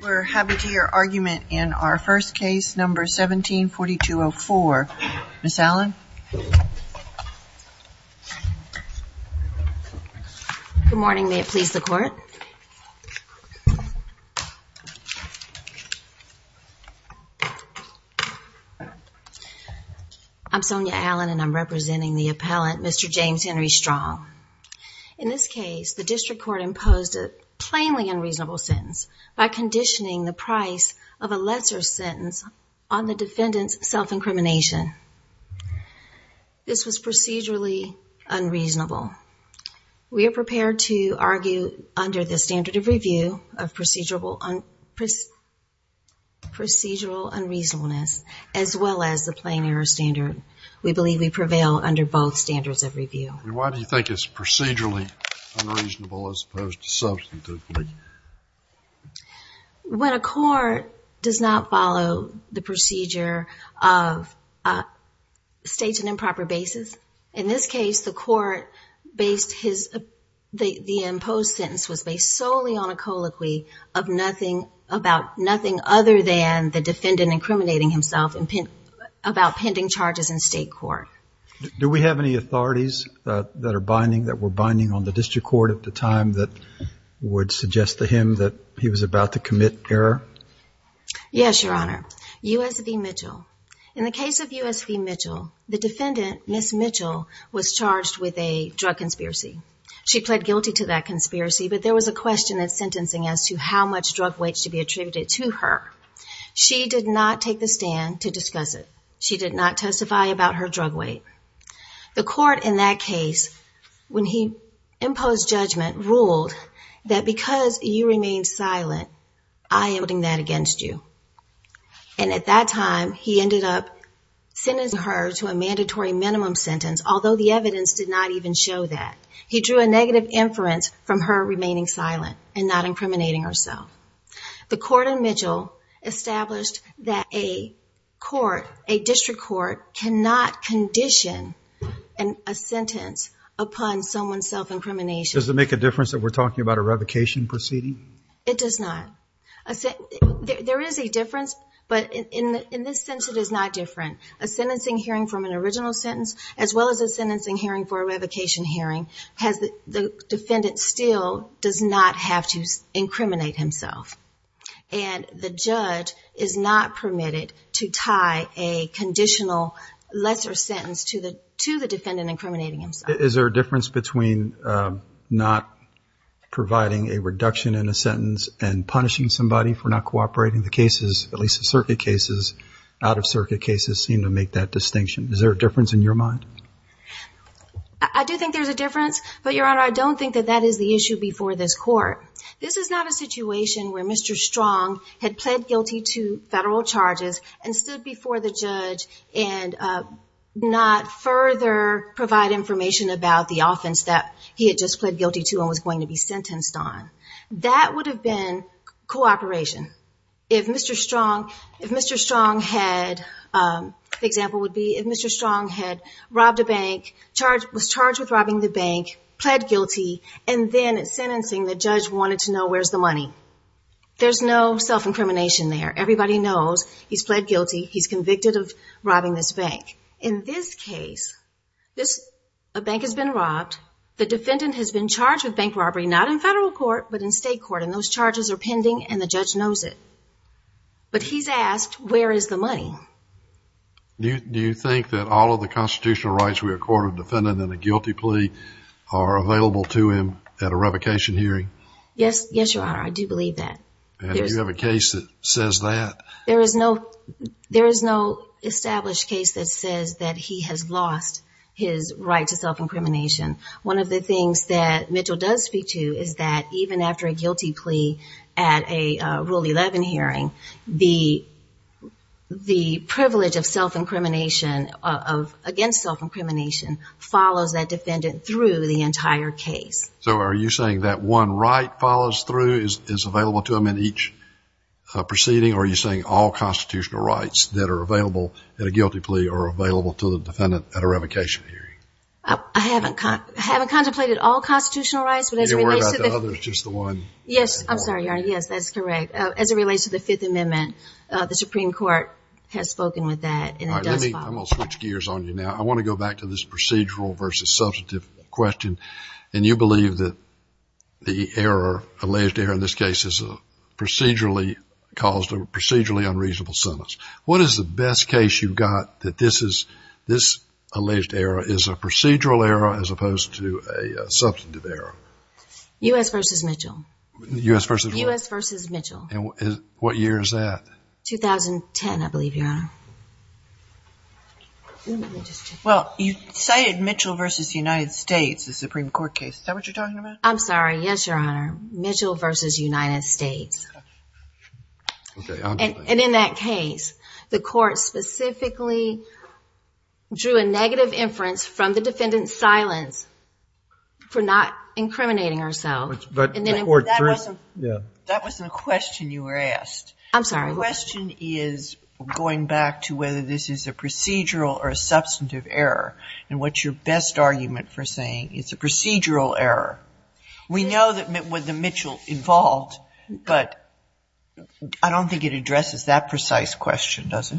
We're happy to hear your argument in our first case, number 17-4204. Ms. Allen? Good morning. May it please the Court? I'm Sonja Allen and I'm representing the appellant, Mr. James Henry Strong. In this case, the district court imposed a plainly unreasonable sentence by conditioning the price of a lesser sentence on the defendant's self-incrimination. This was procedurally unreasonable. We are prepared to argue under the standard of review of procedural unreasonableness as well as the plain error standard. We believe we prevail under both standards of review. Why do you think it's procedurally unreasonable as opposed to substantively? When a court does not follow the procedure of states and improper basis, in this case the court based the imposed sentence was based solely on a colloquy about nothing other than the defendant incriminating himself about pending charges in state court. Do we have any authorities that were binding on the district court at the time that would suggest to him that he was about to commit error? Yes, Your Honor. U.S. v. Mitchell. In the case of U.S. v. Mitchell, the defendant, Ms. Mitchell, was charged with a drug conspiracy. She pled guilty to that conspiracy, but there was a question in sentencing as to how much drug weight should be attributed to her. She did not take the stand to discuss it. She did not testify about her drug weight. The court in that case, when he imposed judgment, ruled that because you remained silent, I am holding that against you. And at that time, he ended up sentencing her to a mandatory minimum sentence, although the evidence did not even show that. He drew a negative inference from her remaining silent and not incriminating herself. The court in Mitchell established that a court, a district court, cannot condition a sentence upon someone's self-incrimination. Does it make a difference that we're talking about a revocation proceeding? It does not. There is a difference, but in this sense it is not different. A sentencing hearing from an original sentence, as well as a sentencing hearing for a revocation hearing, the defendant still does not have to incriminate himself. And the judge is not permitted to tie a conditional lesser sentence to the defendant incriminating himself. Is there a difference between not providing a reduction in a sentence and punishing somebody for not cooperating? The cases, at least the circuit cases, out-of-circuit cases, seem to make that distinction. Is there a difference in your mind? I do think there's a difference, but, Your Honor, I don't think that that is the issue before this court. This is not a situation where Mr. Strong had pled guilty to federal charges and stood before the judge and not further provide information about the offense that he had just pled guilty to and was going to be sentenced on. That would have been cooperation. If Mr. Strong had, the example would be, if Mr. Strong had robbed a bank, was charged with robbing the bank, pled guilty, and then at sentencing the judge wanted to know where's the money. There's no self-incrimination there. Everybody knows he's pled guilty. He's convicted of robbing this bank. In this case, a bank has been robbed. The defendant has been charged with bank robbery, not in federal court, but in state court, and those charges are pending and the judge knows it. But he's asked, where is the money? Do you think that all of the constitutional rights we accord a defendant in a guilty plea are available to him at a revocation hearing? Yes, Your Honor, I do believe that. And do you have a case that says that? There is no established case that says that he has lost his right to self-incrimination. One of the things that Mitchell does speak to is that even after a guilty plea at a Rule 11 hearing, the privilege of self-incrimination, of against self-incrimination, follows that defendant through the entire case. So are you saying that one right follows through, is available to him in each proceeding, or are you saying all constitutional rights that are available in a guilty plea are available to the defendant at a revocation hearing? I haven't contemplated all constitutional rights, but as it relates to the… I'm sorry, Your Honor, yes, that's correct. As it relates to the Fifth Amendment, the Supreme Court has spoken with that, and it does follow. I'm going to switch gears on you now. I want to go back to this procedural versus substantive question. And you believe that the error, alleged error in this case, is a procedurally unreasonable sentence. What is the best case you've got that this alleged error is a procedural error as opposed to a substantive error? U.S. v. Mitchell. U.S. v. what? U.S. v. Mitchell. And what year is that? 2010, I believe, Your Honor. Well, you cited Mitchell v. United States, the Supreme Court case. Is that what you're talking about? I'm sorry. Yes, Your Honor. Mitchell v. United States. And in that case, the court specifically drew a negative inference from the defendant's silence for not incriminating herself. That wasn't a question you were asked. I'm sorry. The question is going back to whether this is a procedural or a substantive error. And what's your best argument for saying it's a procedural error? We know that with the Mitchell involved, but I don't think it addresses that precise question, does it?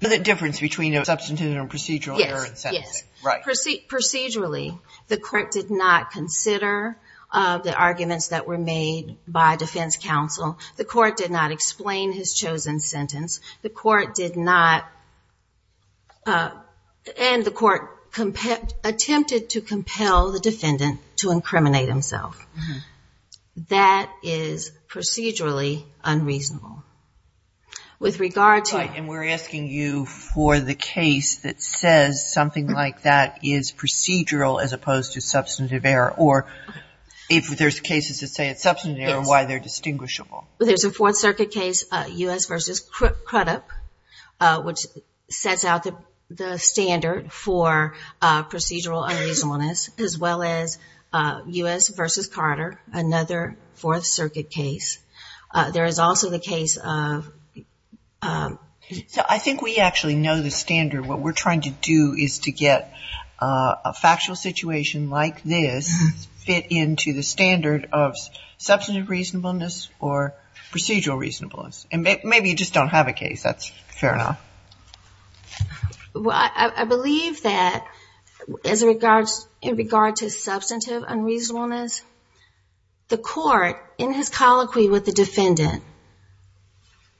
Is there a difference between a substantive and a procedural error in sentencing? Yes. Yes. The court did not consider the arguments that were made by defense counsel. The court did not explain his chosen sentence. The court did not, and the court attempted to compel the defendant to incriminate himself. That is procedurally unreasonable. With regard to... Right, and we're asking you for the case that says something like that is a substantive error, or if there's cases that say it's a substantive error, why they're distinguishable. There's a Fourth Circuit case, U.S. v. Crudup, which sets out the standard for procedural unreasonableness, as well as U.S. v. Carter, another Fourth Circuit case. There is also the case of... I think we actually know the standard. What we're trying to do is to get a factual situation like this fit into the standard of substantive reasonableness or procedural reasonableness. And maybe you just don't have a case. That's fair enough. Well, I believe that in regard to substantive unreasonableness, the court in his colloquy with the defendant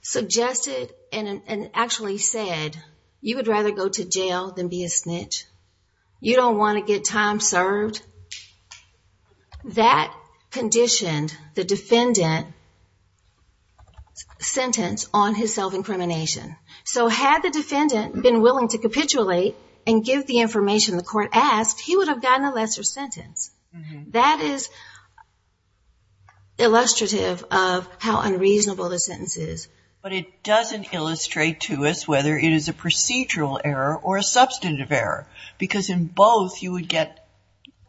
suggested and actually said, you would rather go to jail than be a snitch. You don't want to get time served. That conditioned the defendant's sentence on his self-incrimination. So had the defendant been willing to capitulate and give the information the court asked, he would have gotten a lesser sentence. That is illustrative of how unreasonable the sentence is. But it doesn't illustrate to us whether it is a procedural error or a substantive error, because in both you would get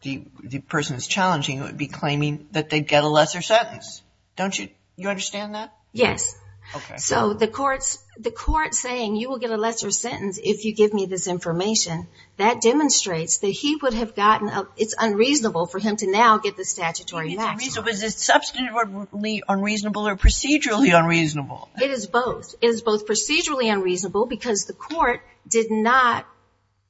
the person that's challenging you would be claiming that they'd get a lesser sentence. Don't you understand that? Yes. So the court saying you will get a lesser sentence if you give me this information, that demonstrates that he would have gotten a... it's unreasonable for him to now get the statutory maximum. So is it substantively unreasonable or procedurally unreasonable? It is both. It is both procedurally unreasonable because the court did not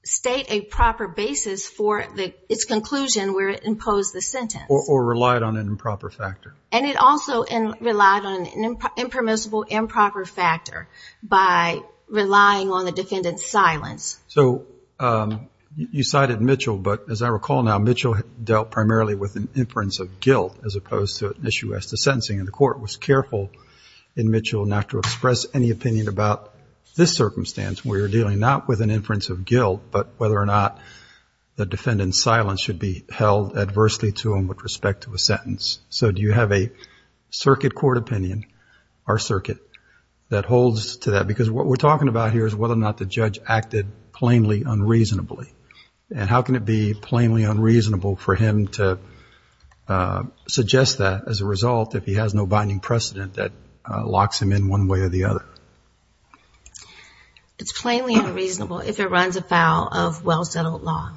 state a proper basis for its conclusion where it imposed the sentence. Or relied on an improper factor. And it also relied on an impermissible improper factor by relying on the defendant's silence. So you cited Mitchell, but as I recall now, as opposed to issue as to sentencing. And the court was careful in Mitchell not to express any opinion about this circumstance where you're dealing not with an inference of guilt, but whether or not the defendant's silence should be held adversely to him with respect to a sentence. So do you have a circuit court opinion, our circuit, that holds to that? Because what we're talking about here is whether or not the judge acted plainly unreasonably. And how can it be plainly unreasonable for him to suggest that as a result if he has no binding precedent that locks him in one way or the other? It's plainly unreasonable if it runs afoul of well-settled law.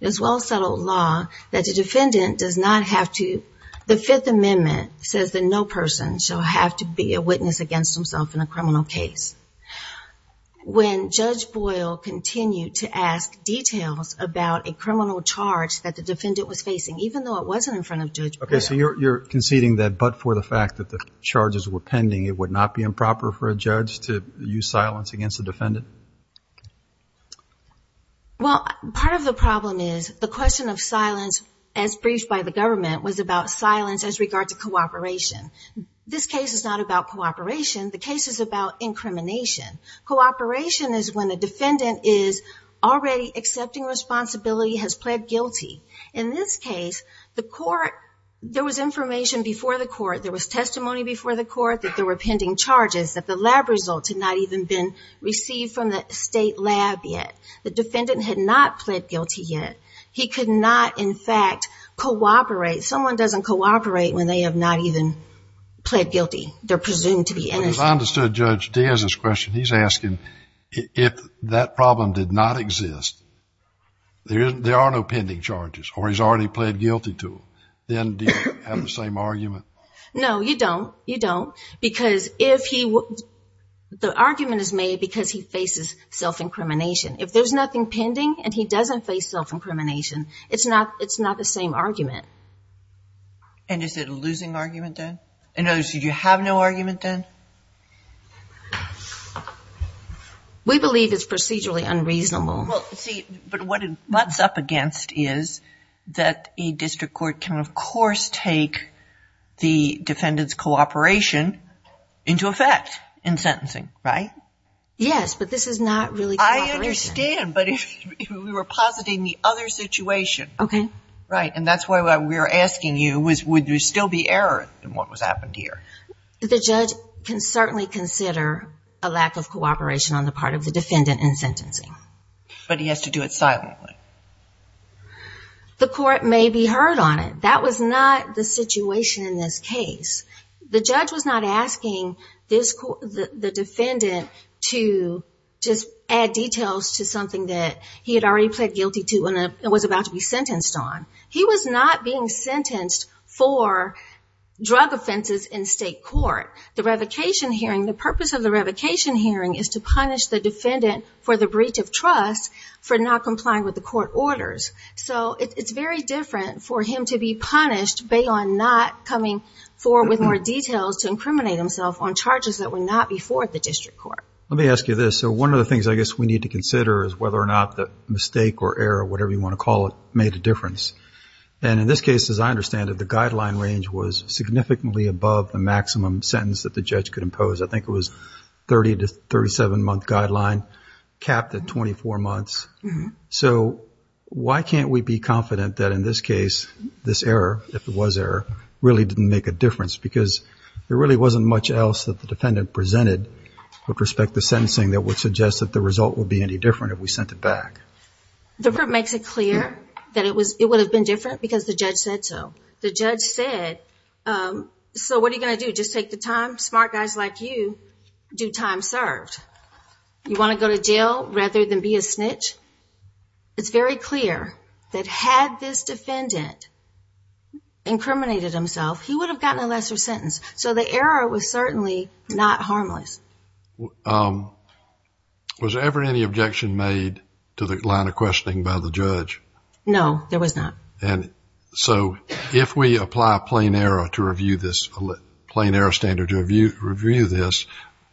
It is well-settled law that the defendant does not have to... the Fifth Amendment says that no person shall have to be a witness against himself in a criminal case. When Judge Boyle continued to ask details about a criminal charge that the defendant was facing, even though it wasn't in front of Judge Boyle... Okay, so you're conceding that but for the fact that the charges were pending, it would not be improper for a judge to use silence against a defendant? Well, part of the problem is the question of silence as briefed by the government was about silence as regards to cooperation. This case is not about cooperation. The case is about incrimination. Cooperation is when a defendant is already accepting responsibility, has pled guilty. In this case, the court... there was information before the court. There was testimony before the court that there were pending charges, that the lab results had not even been received from the state lab yet. The defendant had not pled guilty yet. He could not, in fact, cooperate. Someone doesn't cooperate when they have not even pled guilty. They're presumed to be innocent. But as I understood Judge Diaz's question, he's asking if that problem did not exist, there are no pending charges, or he's already pled guilty to them, then do you have the same argument? No, you don't. You don't. Because if he... the argument is made because he faces self-incrimination. If there's nothing pending and he doesn't face self-incrimination, it's not the same argument. And is it a losing argument then? In other words, did you have no argument then? We believe it's procedurally unreasonable. Well, see, but what it mutts up against is that a district court can, of course, take the defendant's cooperation into effect in sentencing, right? Yes, but this is not really cooperation. I understand, but we were positing the other situation. Okay. Right, and that's why we were asking you, would there still be error in what happened here? The judge can certainly consider a lack of cooperation on the part of the defendant in sentencing. But he has to do it silently. The court may be heard on it. That was not the situation in this case. The judge was not asking the defendant to just add details to something that he had already pled guilty to and was about to be sentenced on. He was not being sentenced for drug offenses in state court. The purpose of the revocation hearing is to punish the defendant for the breach of trust for not complying with the court orders. So it's very different for him to be punished beyond not coming forward with more details to incriminate himself on charges that were not before the district court. Let me ask you this. So one of the things I guess we need to consider is whether or not the mistake or error, whatever you want to call it, made a difference. And in this case, as I understand it, the guideline range was significantly above the maximum sentence that the judge could impose. I think it was 30 to 37-month guideline, capped at 24 months. So why can't we be confident that in this case this error, if it was error, really didn't make a difference? Because there really wasn't much else that the defendant presented with that suggests that the result would be any different if we sent it back. The court makes it clear that it would have been different because the judge said so. The judge said, so what are you going to do, just take the time? Smart guys like you do time served. You want to go to jail rather than be a snitch? It's very clear that had this defendant incriminated himself, he would have gotten a lesser sentence. So the error was certainly not harmless. Was there ever any objection made to the line of questioning by the judge? No, there was not. So if we apply a plain error standard to review this,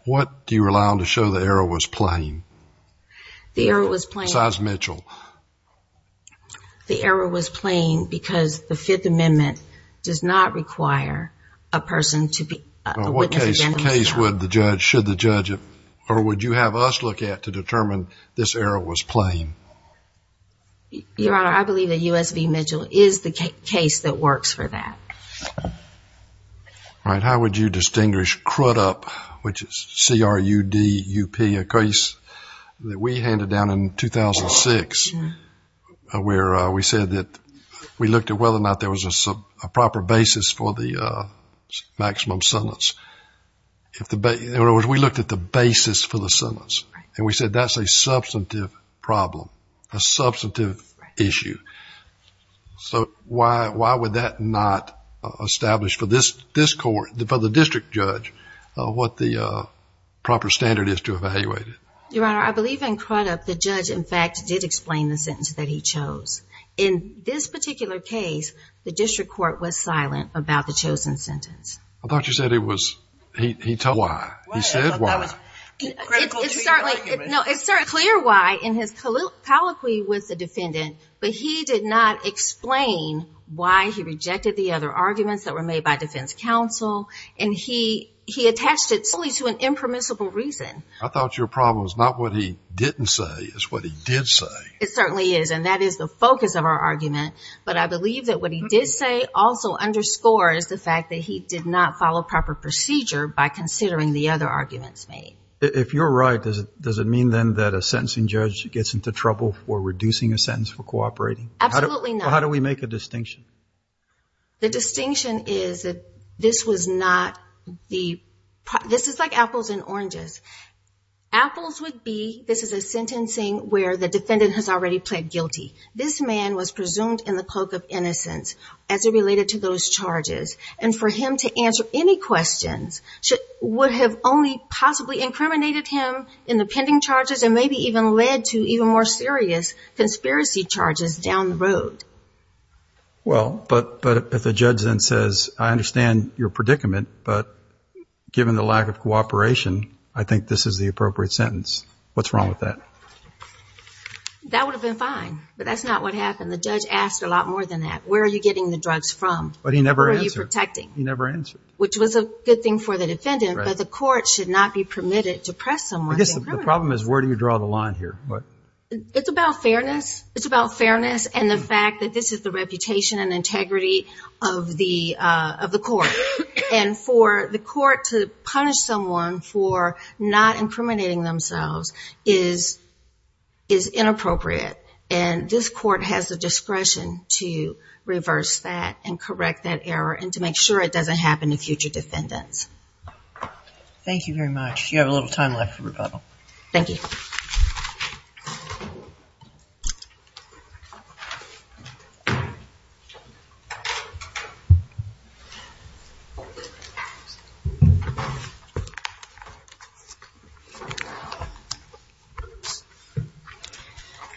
what do you rely on to show the error was plain? The error was plain. Besides Mitchell. The error was plain because the Fifth Amendment does not require a person to testify before the judge should the judge or would you have us look at to determine this error was plain? Your Honor, I believe that U.S.V. Mitchell is the case that works for that. All right. How would you distinguish CRUDUP, which is C-R-U-D-U-P, a case that we handed down in 2006 where we said that we looked at whether or not there was a proper basis for the maximum sentence. In other words, we looked at the basis for the sentence. Right. And we said that's a substantive problem, a substantive issue. Right. So why would that not establish for this court, for the district judge, what the proper standard is to evaluate it? Your Honor, I believe in CRUDUP the judge, in fact, did explain the sentence that he chose. In this particular case, the district court was silent about the chosen sentence. I thought you said he told you why. He said why. It's certainly clear why in his colloquy with the defendant, but he did not explain why he rejected the other arguments that were made by defense counsel, and he attached it solely to an impermissible reason. I thought your problem was not what he didn't say, it's what he did say. It certainly is, and that is the focus of our argument. But I believe that what he did say also underscores the fact that he did not follow proper procedure by considering the other arguments made. If you're right, does it mean then that a sentencing judge gets into trouble for reducing a sentence for cooperating? Absolutely not. How do we make a distinction? The distinction is that this was not the – this is like apples and oranges. Apples would be this is a sentencing where the defendant has already pled guilty. This man was presumed in the cloak of innocence as it related to those charges, and for him to answer any questions would have only possibly incriminated him in the pending charges and maybe even led to even more serious conspiracy charges down the road. Well, but if the judge then says, I understand your predicament, but given the lack of cooperation, I think this is the appropriate sentence, what's wrong with that? That would have been fine, but that's not what happened. The judge asked a lot more than that. Where are you getting the drugs from? But he never answered. Who are you protecting? He never answered. Which was a good thing for the defendant, but the court should not be permitted to press someone. I guess the problem is where do you draw the line here? It's about fairness. It's about fairness and the fact that this is the reputation and integrity of the court. And for the court to punish someone for not incriminating themselves is inappropriate. And this court has the discretion to reverse that and correct that error and to make sure it doesn't happen to future defendants. Thank you very much. You have a little time left for rebuttal. Thank you.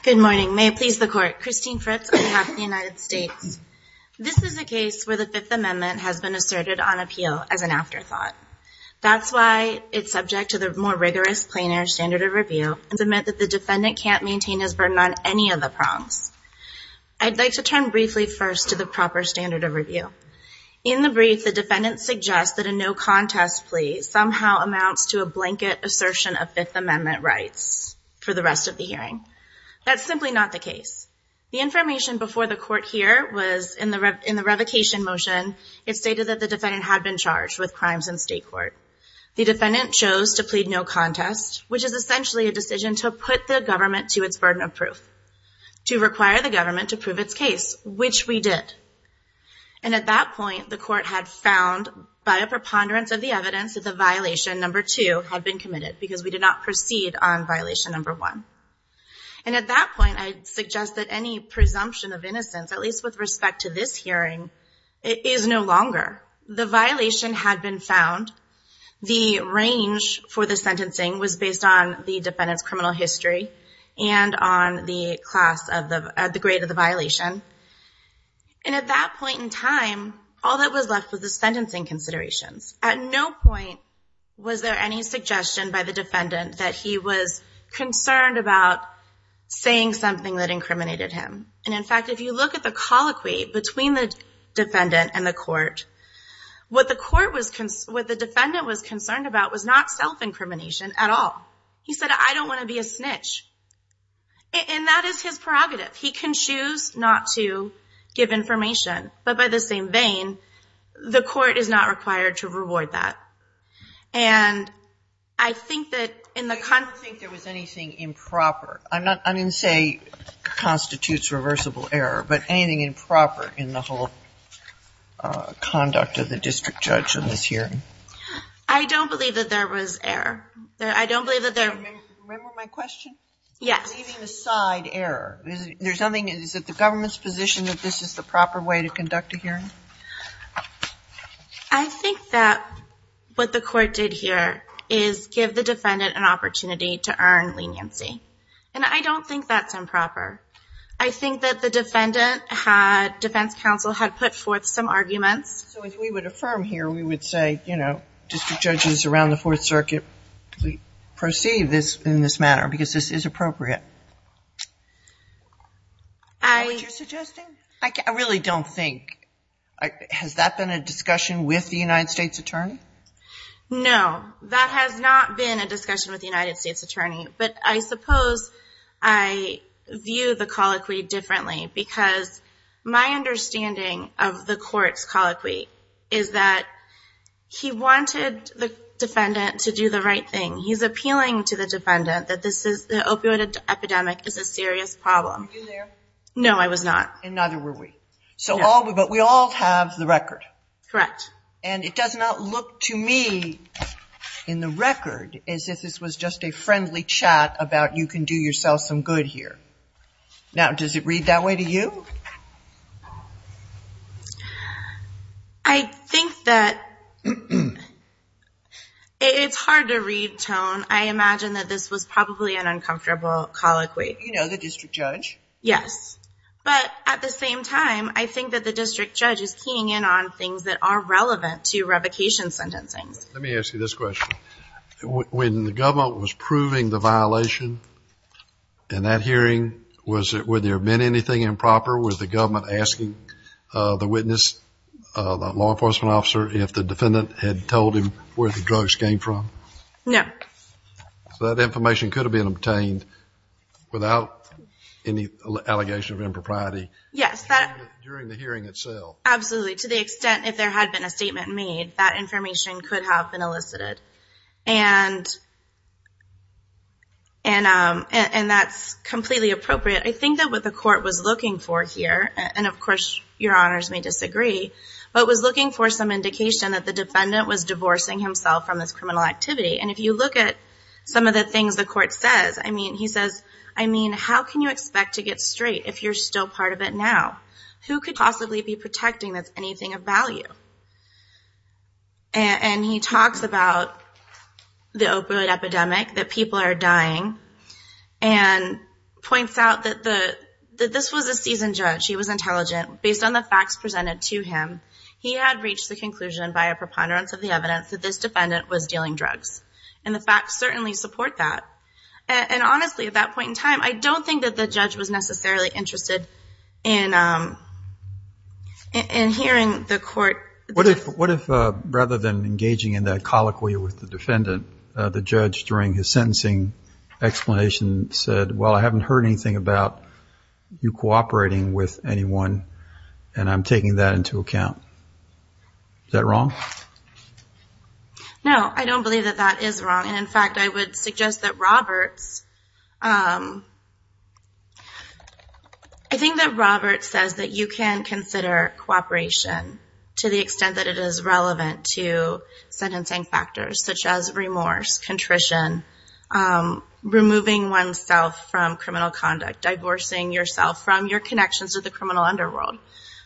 Good morning. May it please the court. Christine Fritz on behalf of the United States. This is a case where the Fifth Amendment has been asserted on appeal as an afterthought. That's why it's subject to the more rigorous plenary standard of review and meant that the defendant can't maintain his burden on any of the prongs. I'd like to turn briefly first to the proper standard of review. the defendant suggests that a no contest plea somehow amounts to a blanket assertion of Fifth Amendment rights for the rest of the hearing. That's simply not the case. The information before the court here was in the revocation motion. It stated that the defendant had been charged with crimes in state court. The defendant chose to plead no contest, which is essentially a decision to put the government to its burden of proof to require the government to prove its case, which we did. And at that point, the court had found by a preponderance of the evidence that the violation number two had been committed because we did not proceed on violation number one. And at that point, I suggest that any presumption of innocence, at least with respect to this hearing, is no longer. The violation had been found. The range for the sentencing was based on the defendant's criminal history and on the class of the grade of the violation. And at that point in time, all that was left was the sentencing considerations. At no point was there any suggestion by the defendant that he was concerned about saying something that incriminated him. And in fact, if you look at the colloquy between the defendant and the court, what the defendant was concerned about was not self-incrimination at all. He said, I don't want to be a snitch. And that is his prerogative. He can choose not to give information, but by the same vein, the court is not required to reward that. And I think that in the kind of. I don't think there was anything improper. I didn't say constitutes reversible error, but anything improper in the whole conduct of the district judge in this hearing. I don't believe that there was error. I don't believe that there. Remember my question? Yes. Leaving aside error. Is it the government's position that this is the proper way to conduct a hearing? I think that what the court did here is give the defendant an opportunity to earn leniency. And I don't think that's improper. I think that the defendant had, defense counsel had put forth some arguments. So if we would affirm here, we would say, you know, district judges around the fourth circuit, we perceive this in this manner because this is appropriate. I. What you're suggesting? I really don't think. Has that been a discussion with the United States attorney? No, that has not been a discussion with the United States attorney, but I suppose I view the colloquy differently because my understanding of the court's colloquy is that he wanted the defendant to do the right thing. He's appealing to the defendant that this is the opioid epidemic is a serious problem. Were you there? No, I was not. And neither were we. But we all have the record. Correct. And it does not look to me in the record as if this was just a friendly chat about you can do yourself some good here. Now, does it read that way to you? I think that it's hard to read tone. I imagine that this was probably an uncomfortable colloquy. You know, the district judge. Yes. But at the same time, I think that the district judge is keying in on things that are relevant to revocation sentencing. Let me ask you this question. When the government was proving the violation in that hearing, was it, were there been anything improper with the government asking the witness, the law enforcement officer, if the defendant had told him where the drugs came from? No. So that information could have been obtained without any allegation of impropriety. Yes. During the hearing itself. Absolutely. To the extent, if there had been a statement made, that information could have been elicited. And, and, and, and that's completely appropriate. I think that what the court was looking for here, and of course your honors may disagree, but was looking for some indication that the defendant was divorcing himself from this criminal activity. And if you look at some of the things the court says, I mean, he says, I mean, how can you expect to get straight if you're still part of it now, who could possibly be protecting that's anything of value. And he talks about the opioid epidemic, that people are dying and points out that the, that this was a seasoned judge. He was intelligent based on the facts presented to him. He had reached the conclusion by a preponderance of the evidence that this And the facts certainly support that. And honestly, at that point in time, I don't think that the judge was necessarily interested in, in hearing the court. What if, what if rather than engaging in that colloquy with the defendant, the judge during his sentencing explanation said, well, I haven't heard anything about you cooperating with anyone. And I'm taking that into account. Is that wrong? No, I don't believe that that is wrong. And in fact, I would suggest that Roberts, I think that Robert says that you can consider cooperation to the extent that it is relevant to sentencing factors, such as remorse, contrition, removing oneself from criminal conduct, divorcing yourself from your connections to the criminal underworld.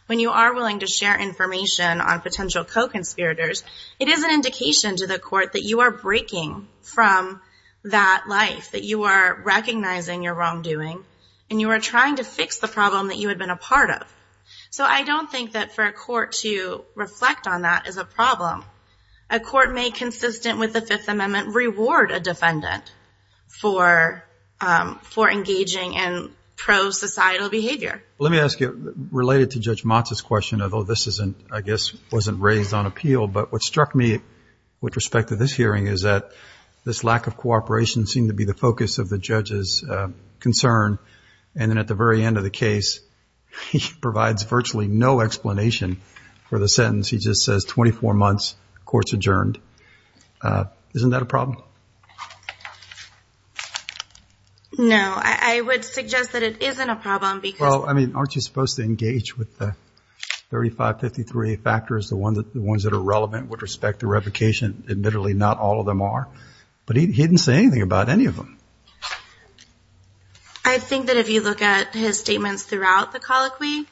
When you are willing to share information on potential co-conspirators, it is an indication to the court that you are breaking from that life, that you are recognizing your wrongdoing and you are trying to fix the problem that you had been a part of. So I don't think that for a court to reflect on that as a problem, a court may consistent with the fifth amendment, reward a defendant for, for engaging in pro societal behavior. Let me ask you related to judge Matz's question, although this isn't, I guess wasn't raised on appeal, but what struck me with respect to this hearing is that this lack of cooperation seemed to be the focus of the judge's concern. And then at the very end of the case, he provides virtually no explanation for the sentence. He just says 24 months court's adjourned. Isn't that a problem? No, I would suggest that it isn't a problem because, well, I mean, aren't you supposed to engage with the 3553 factors, the ones that are relevant with respect to replication? Admittedly, not all of them are, but he didn't say anything about any of them. I think that if you look at his statements throughout the colloquy,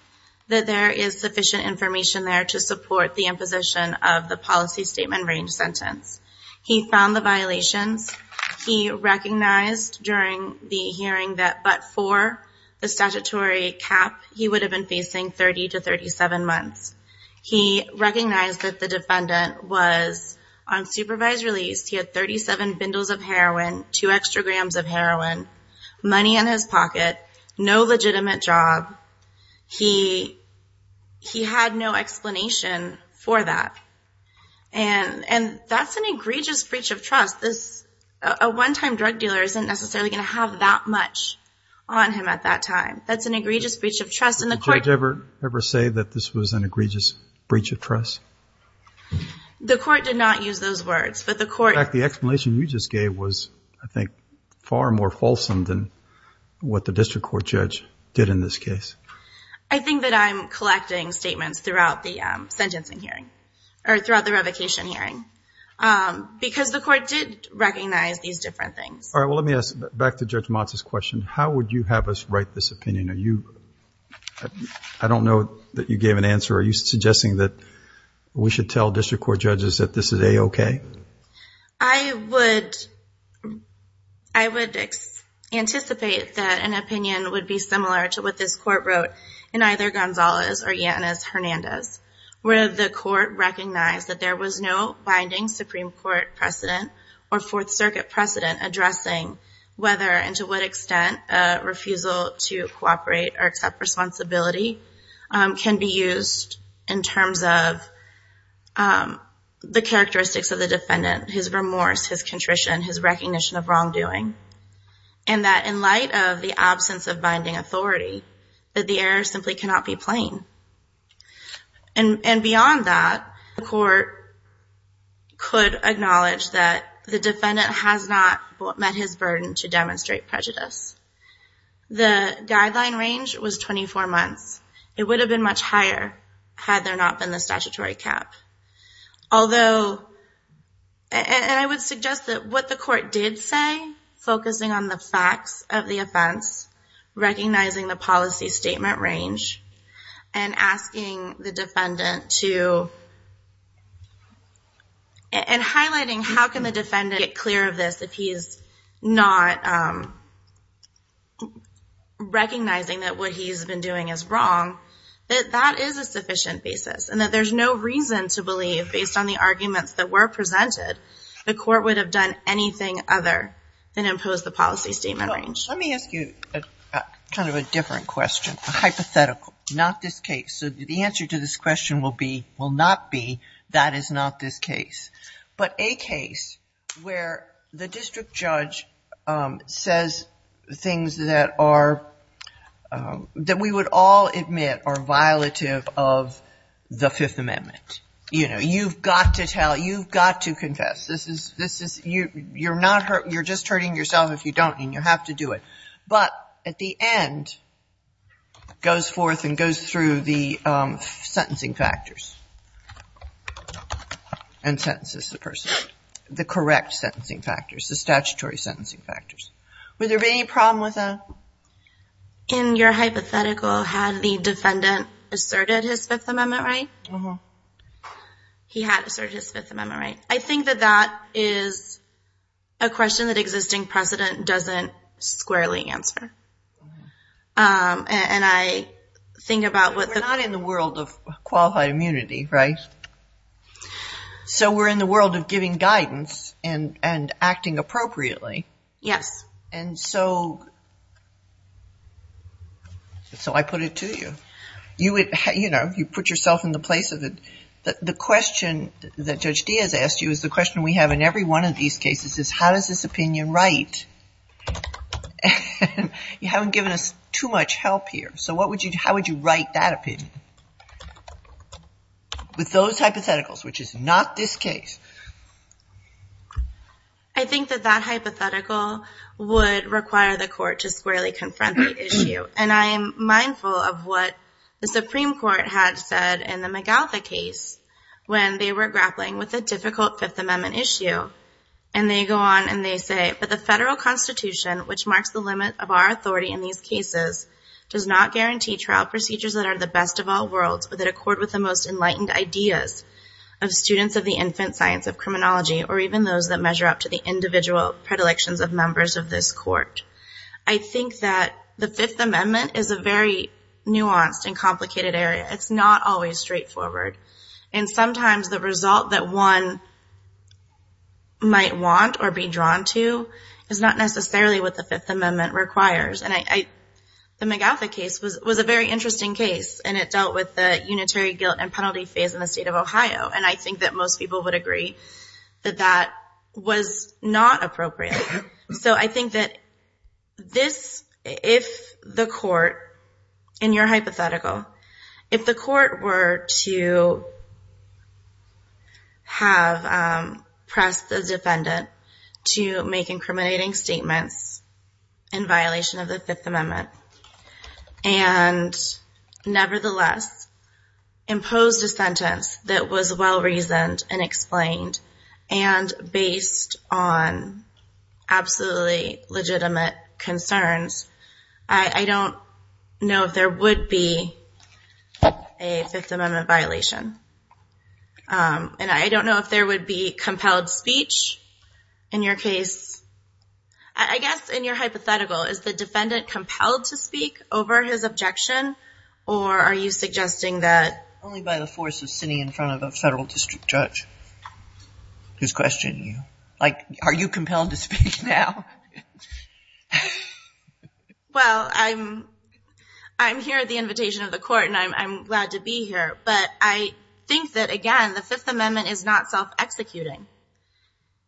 that there is sufficient information there to support the imposition of the policy statement range sentence. He found the violations he recognized during the hearing that, but for the statutory cap, he would have been facing 30 to 37 months. He recognized that the defendant was on supervised release. He had 37 bundles of heroin, two extra grams of heroin money in his pocket, no legitimate job. He, he had no explanation for that. And, and that's an egregious breach of trust. This, a one-time drug dealer isn't necessarily going to have that much on him at that time. That's an egregious breach of trust in the court. Ever say that this was an egregious breach of trust. The court did not use those words, but the court, the explanation you just gave was, I think far more fulsome than what the district court judge did in this case. I think that I'm collecting statements throughout the sentencing hearing or throughout the revocation hearing, because the court did recognize these different things. All right. Well, let me ask back to judge Matz's question. How would you have us write this opinion? Are you, I don't know that you gave an answer. Are you suggesting that we should tell district court judges that this is a okay. I would, I would anticipate that an opinion would be similar to what this court wrote in either Gonzalez or Yanis Hernandez, where the court recognized that there was no binding Supreme court precedent or fourth circuit precedent addressing whether, and to what extent a refusal to cooperate or accept responsibility, um, can be used in terms of, um, the characteristics of the defendant, his remorse, his contrition, his recognition of wrongdoing. And that in light of the absence of binding authority, that the error simply cannot be plain. And beyond that, the court could acknowledge that the defendant has not met his burden to demonstrate prejudice. The guideline range was 24 months. It would have been much higher had there not been the statutory cap. Although, and I would suggest that what the court did say, focusing on the facts of the offense, recognizing the policy statement range, and asking the defendant to, and highlighting how can the defendant get clear of this if he is not, um, recognizing that what he's been doing is wrong, that that is a sufficient basis. And that there's no reason to believe based on the arguments that were presented, the court would have done anything other than impose the policy statement range. Let me ask you a, kind of a different question, a hypothetical, not this case. So the answer to this question will be, will not be that is not this case. But a case where the district judge, um, says things that are, um, that we would all admit are violative of the Fifth Amendment. You know, you've got to tell, you've got to confess. This is, this is, you, you're not hurt. You're just hurting yourself if you don't, and you have to do it. But at the end, goes forth and goes through the, um, sentencing factors, and sentences the person. The correct sentencing factors, the statutory sentencing factors. Would there be any problem with that? In your hypothetical, had the defendant asserted his Fifth Amendment right? Uh-huh. He had asserted his Fifth Amendment right. I think that that is a question that existing precedent doesn't squarely answer. Um, and I think about what. We're not in the world of qualified immunity, right? So we're in the world of giving guidance and, and acting appropriately. Yes. And so, so I put it to you. You would, you know, you put yourself in the place of the, the question that Judge Diaz asked you is the question we have in every one of these cases is how does this opinion write? And you haven't given us too much help here. So what would you, how would you write that opinion? With those hypotheticals, which is not this case. And I am mindful of what the Supreme Court had said in the McArthur case, when they were grappling with a difficult Fifth Amendment issue. And they go on and they say, but the federal constitution, which marks the limit of our authority in these cases, does not guarantee trial procedures that are the best of all worlds, or that accord with the most enlightened ideas of students of the infant science of criminology, or even those that measure up to the individual predilections of members of this court. I think that the Fifth Amendment is a very nuanced and complicated area. It's not always straightforward. And sometimes the result that one might want or be drawn to is not necessarily what the Fifth Amendment requires. And I, the McArthur case was, was a very interesting case and it dealt with the unitary guilt and penalty phase in the state of Ohio. And I think that most people would agree that that was not appropriate. So I think that this, if the court, in your hypothetical, if the court were to have pressed the defendant to make incriminating statements in violation of the Fifth Amendment, and nevertheless imposed a sentence that was well-reasoned and explained, and based on absolutely legitimate concerns, I don't know if there would be a Fifth Amendment violation. And I don't know if there would be compelled speech in your case. I guess in your hypothetical, is the defendant compelled to speak over his objection? Or are you suggesting that only by the force of sitting in front of a federal district judge, who's questioning you, like, are you compelled to speak now? Well, I'm, I'm here at the invitation of the court and I'm glad to be here. But I think that, again, the Fifth Amendment is not self-executing.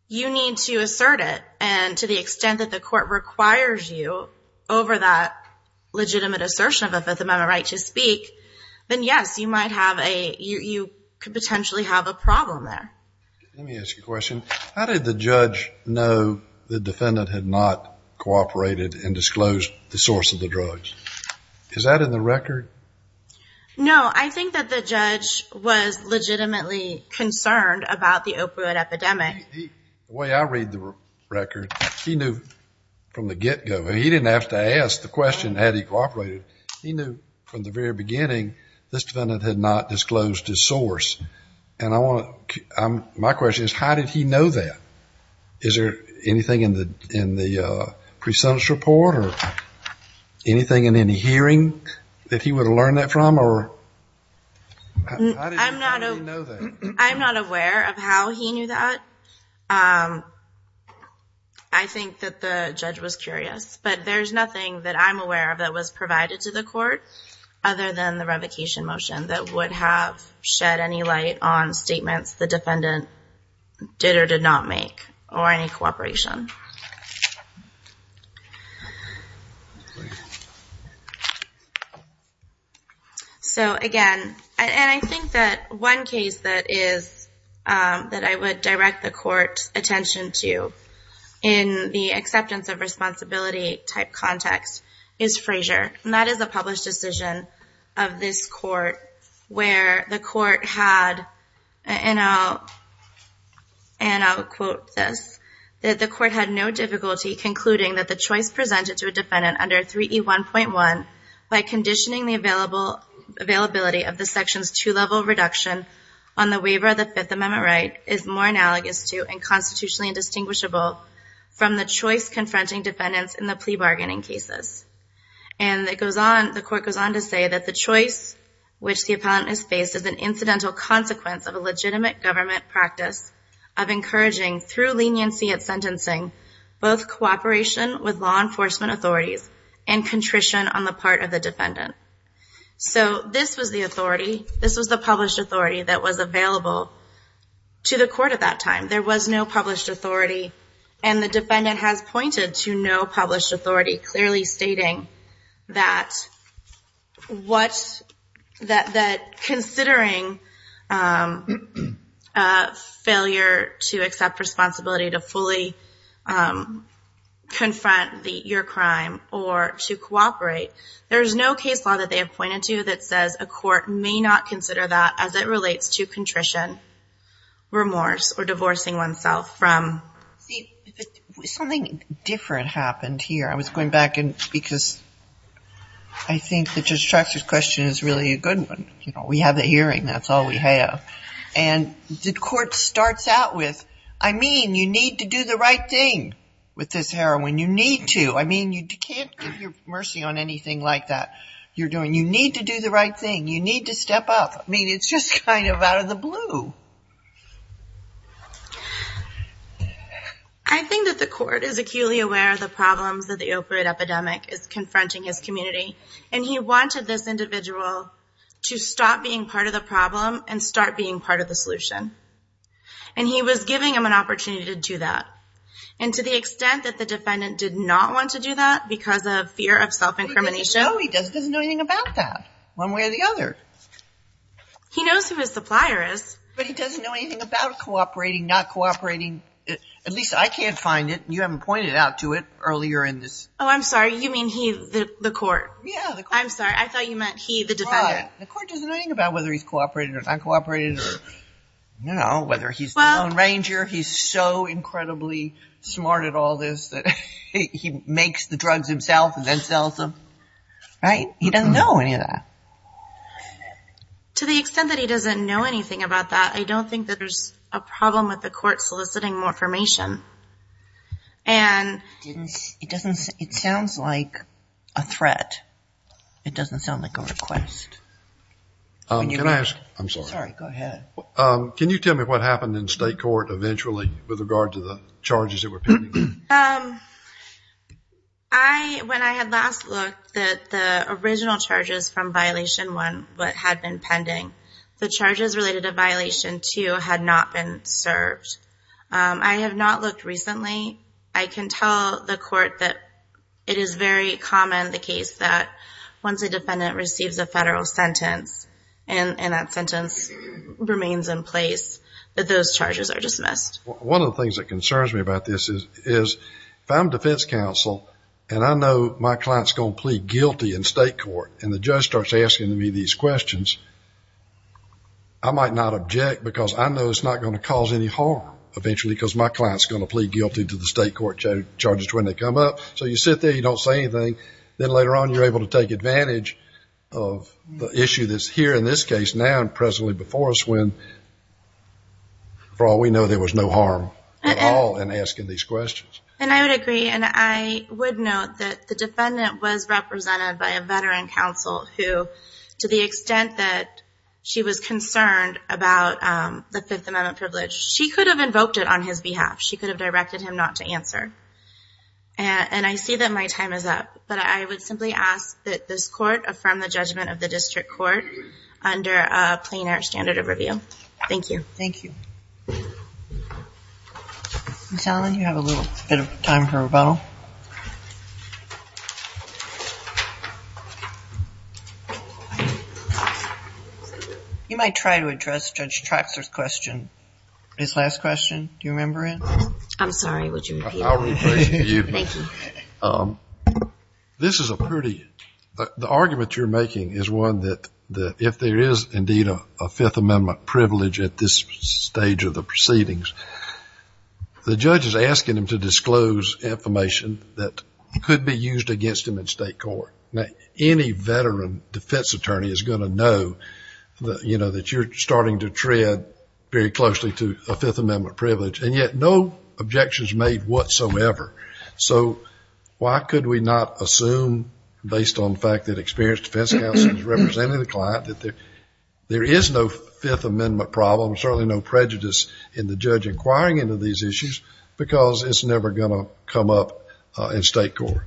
You need to assert it. And to the extent that the court requires you over that legitimate assertion of a Fifth Amendment right to speak, then yes, you might have a, you could potentially have a problem there. Let me ask you a question. How did the judge know the defendant had not cooperated and disclosed the source of the drugs? Is that in the record? No. I think that the judge was legitimately concerned about the opioid epidemic. The way I read the record, he knew from the get-go. He didn't have to ask the question, had he cooperated? He knew from the very beginning, this defendant had not disclosed his source. And I want to, my question is, how did he know that? Is there anything in the, in the presumptuous report or anything in any hearing that he would have learned that from? How did he know that? I'm not aware of how he knew that. I think that the judge was curious. But there's nothing that I'm aware of that was provided to the court, other than the revocation motion, that would have shed any light on statements the defendant did or did not make or any cooperation. So again, and I think that one case that is, that I would direct the court's attention to in the acceptance of responsibility type context, is Frazier. And that is a published decision of this court where the court had, and I'll, and I'll quote this, that the court had no difficulty concluding that the choice presented to a defendant under 3E1.1, by conditioning the availability of the section's two-level reduction on the waiver of the Fifth Amendment right, is more analogous to and constitutionally indistinguishable from the choice confronting defendants in the plea bargaining cases. And it goes on, the court goes on to say that the choice which the appellant has faced is an incidental consequence of a legitimate government practice of encouraging, through leniency at sentencing, both cooperation with law enforcement authorities and contrition on the part of the defendant. So this was the authority, this was the published authority that was available to the court at that time. There was no published authority, and the defendant has pointed to no published authority, clearly stating that what, that, that considering failure to accept responsibility to fully confront your crime or to cooperate, there is no case law that they have pointed to that says a court may not consider that as it relates to contrition, remorse, or divorcing oneself from. Something different happened here. I was going back and, because I think that Judge Traxler's question is really a good one. We have the hearing, that's all we have. And the court starts out with, I mean, you need to do the right thing with this heroin. You need to. I mean, you can't give your mercy on anything like that. You're doing, you need to do the right thing. You need to step up. I mean, it's just kind of out of the blue. I think that the court is acutely aware of the problems that the opioid epidemic is confronting his community. And he wanted this individual to stop being part of the problem and start being part of the solution. And he was giving him an opportunity to do that. And to the extent that the defendant did not want to do that because of fear of self-incrimination. No, he doesn't know anything about that. One way or the other. He knows who his supplier is. But he doesn't know anything about cooperating, not cooperating. At least, I can't find it. You haven't pointed out to it earlier in this. Oh, I'm sorry. You mean he, the court? Yeah, the court. I'm sorry. I thought you meant he, the defendant. The court doesn't know anything about whether he's cooperating or not cooperating or, you know, whether he's the Lone Ranger. He's so incredibly smart at all this that he makes the drugs himself and then sells them. Right? He doesn't know any of that. To the extent that he doesn't know anything about that, I don't think that there's a problem with the court soliciting more information. And, it doesn't, it sounds like a threat. It doesn't sound like a request. Can I ask, I'm sorry. Sorry, go ahead. Can you tell me what happened in state court eventually with regard to the charges that were pending? I, when I had last looked, that the original charges from violation one, what had been pending, the charges related to violation two had not been served. I have not looked recently. I can tell the court that it is very common, the case that once a defendant receives a federal sentence, and that sentence remains in place, that those charges are dismissed. One of the things that concerns me about this is, if I'm defense counsel, and I know my client's going to plead guilty in state court, and the judge starts asking me these questions, I might not object because I know it's not going to cause any harm eventually, because my client's going to plead guilty to the state court charges when they come up. So you sit there, you don't say anything, then later on you're able to take advantage of the issue that's here in this case now, and presently before us when, for all we know, there was no harm at all in asking these questions. And I would agree, and I would note that the defendant was represented by a veteran counsel who, to the extent that she was concerned about the Fifth Amendment privilege, she could have invoked it on his behalf. She could have directed him not to answer. And I see that my time is up, but I would simply ask that this court affirm the judgment of the district court under a plainer standard of review. Thank you. Thank you. Ms. Allen, you have a little bit of time for rebuttal. You might try to address Judge Traxler's question, his last question. Do you remember it? I'm sorry, would you repeat it? I'll rephrase it for you. Thank you. This is a pretty, the argument you're making is one that if there is indeed a Fifth Amendment privilege at this stage of the proceedings, the judge is asking him to disclose information that could be used against him in state court. Now, any veteran defense attorney is going to know, you know, that you're starting to tread very closely to a Fifth Amendment privilege, and yet no objections made whatsoever. So why could we not assume, based on the fact that experienced defense counsel is representing the client, that there is no Fifth Amendment problem, certainly no prejudice in the judge inquiring into these issues, because it's never going to come up in state court.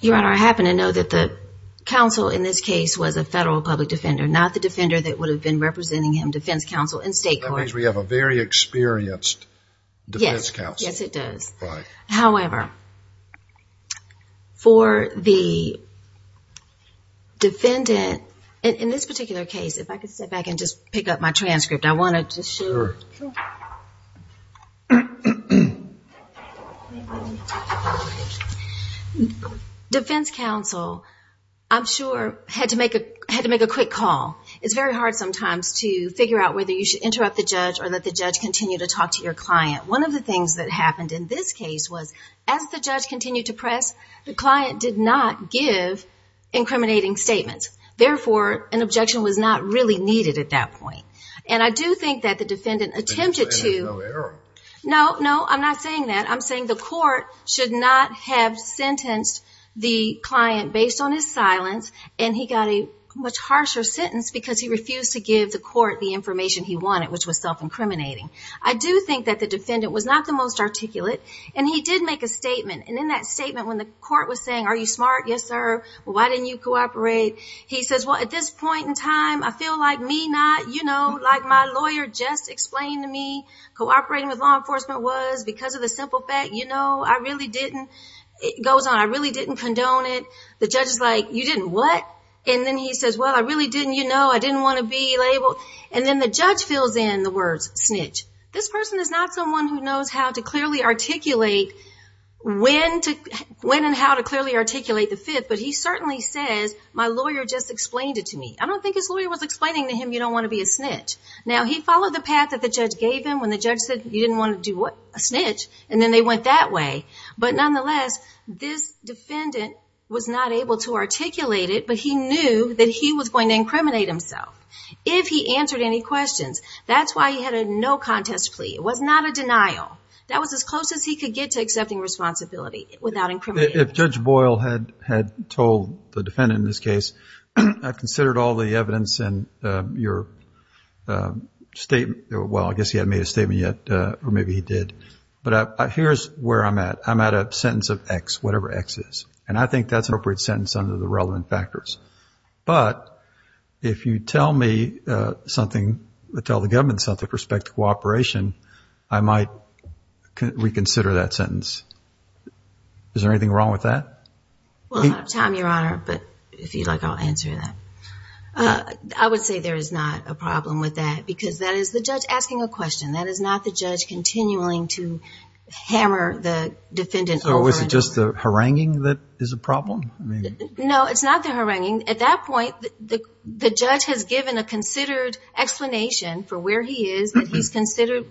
Your Honor, I happen to know that the counsel in this case was a federal public defender, not the defender that would have been representing him, defense counsel, in state court. That means we have a very experienced defense counsel. Yes, it does. Right. However, for the defendant, in this particular case, if I could step back and just pick up my transcript, I wanted to show you. Sure. Defense counsel, I'm sure, had to make a quick call. It's very hard sometimes to figure out whether you should interrupt the judge or let the judge continue to talk to your client. One of the things that happened in this case was, as the judge continued to press, the client did not give incriminating statements. Therefore, an objection was not really needed at that point. And I do think that the defendant attempted to... No, no, I'm not saying that. I'm saying the court should not have sentenced the client based on his silence, and he got a much harsher sentence because he refused to give the court the information he wanted, which was self-incriminating. I do think that the defendant was not the most articulate, and he did make a statement. And in that statement, when the court was saying, are you smart? Yes, sir. Why didn't you cooperate? He says, well, at this point in time, I feel like me not, you know, like my lawyer just explained to me, cooperating with law enforcement was because of the simple fact, you know, I really didn't. It goes on. I really didn't condone it. The judge is like, you didn't what? And then he says, well, I really didn't, you know, I didn't want to be labeled. And then the judge fills in the words snitch. This person is not someone who knows how to clearly articulate when to, when and how to clearly articulate the fifth. But he certainly says, my lawyer just explained it to me. I don't think his lawyer was explaining to him. You don't want to be a snitch. Now he followed the path that the judge gave him when the judge said you didn't want to do what a snitch. And then they went that way. But nonetheless, this defendant was not able to articulate it, but he knew that he was going to incriminate himself. If he answered any questions, that's why he had a no contest plea. It was not a denial. That was as close as he could get to accepting responsibility without incriminating. If judge Boyle had, had told the defendant in this case, I've considered all the evidence and your statement. Well, I guess he hadn't made a statement yet, or maybe he did, but here's where I'm at. I'm at a sentence of X, whatever X is. And I think that's an appropriate sentence under the relevant factors. But if you tell me something, tell the government something with respect to cooperation, I might reconsider that sentence. Is there anything wrong with that? Well, I don't have time, Your Honor, but if you'd like, I'll answer that. I would say there is not a problem with that because that is the judge asking a question. That is not the judge continually to hammer the defendant over and over. So is it just the haranguing that is a problem? No, it's not the haranguing. At that point, the judge has given a considered explanation for where he is. He's considered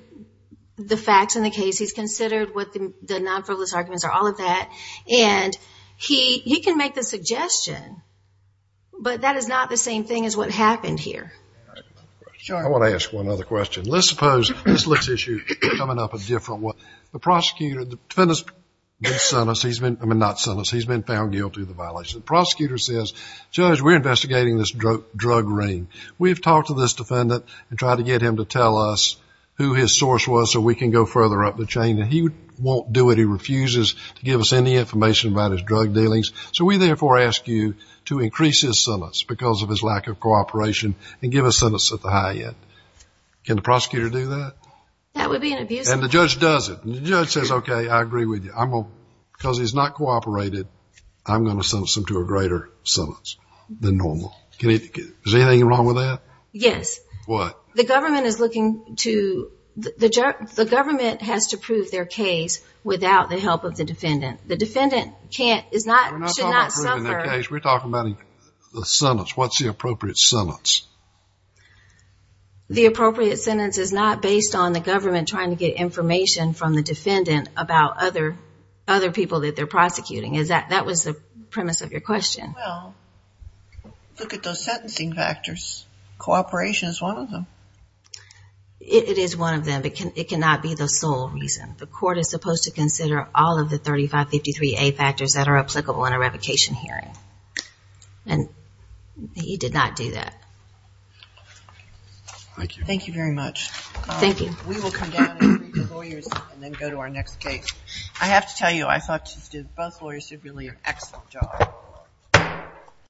the facts in the case. He's considered what the non-frivolous arguments are, all of that. And he can make the suggestion, but that is not the same thing as what happened here. I want to ask one other question. Let's suppose this looks as if you're coming up with a different one. The prosecutor, the defendant's been sentenced, I mean not sentenced, he's been found guilty of the violation. The prosecutor says, Judge, we're investigating this drug ring. We've talked to this defendant and tried to get him to tell us who his source was so we can go further up the chain. And he won't do it. He refuses to give us any information about his drug dealings. So we therefore ask you to increase his sentence because of his lack of cooperation and give a sentence at the high end. Can the prosecutor do that? That would be an abuse of power. And the judge does it. And the judge says, okay, I agree with you. Because he's not cooperated, I'm going to send him to a greater sentence than normal. Is there anything wrong with that? Yes. What? The government is looking to, the government has to prove their case without the help of the defendant. The defendant can't, is not, should not suffer. We're not talking about proving their case. We're talking about the sentence. What's the appropriate sentence? The appropriate sentence is not based on the government trying to get information from the defendant about other, other people that they're prosecuting. That was the premise of your question. Well, look at those sentencing factors. Cooperation is one of them. It is one of them, but it cannot be the sole reason. The court is supposed to consider all of the 3553A factors that are applicable in a revocation hearing. And he did not do that. Thank you. Thank you very much. Thank you. We will come down and meet the lawyers and then go to our next case. I have to tell you, I thought both lawyers did really an excellent job.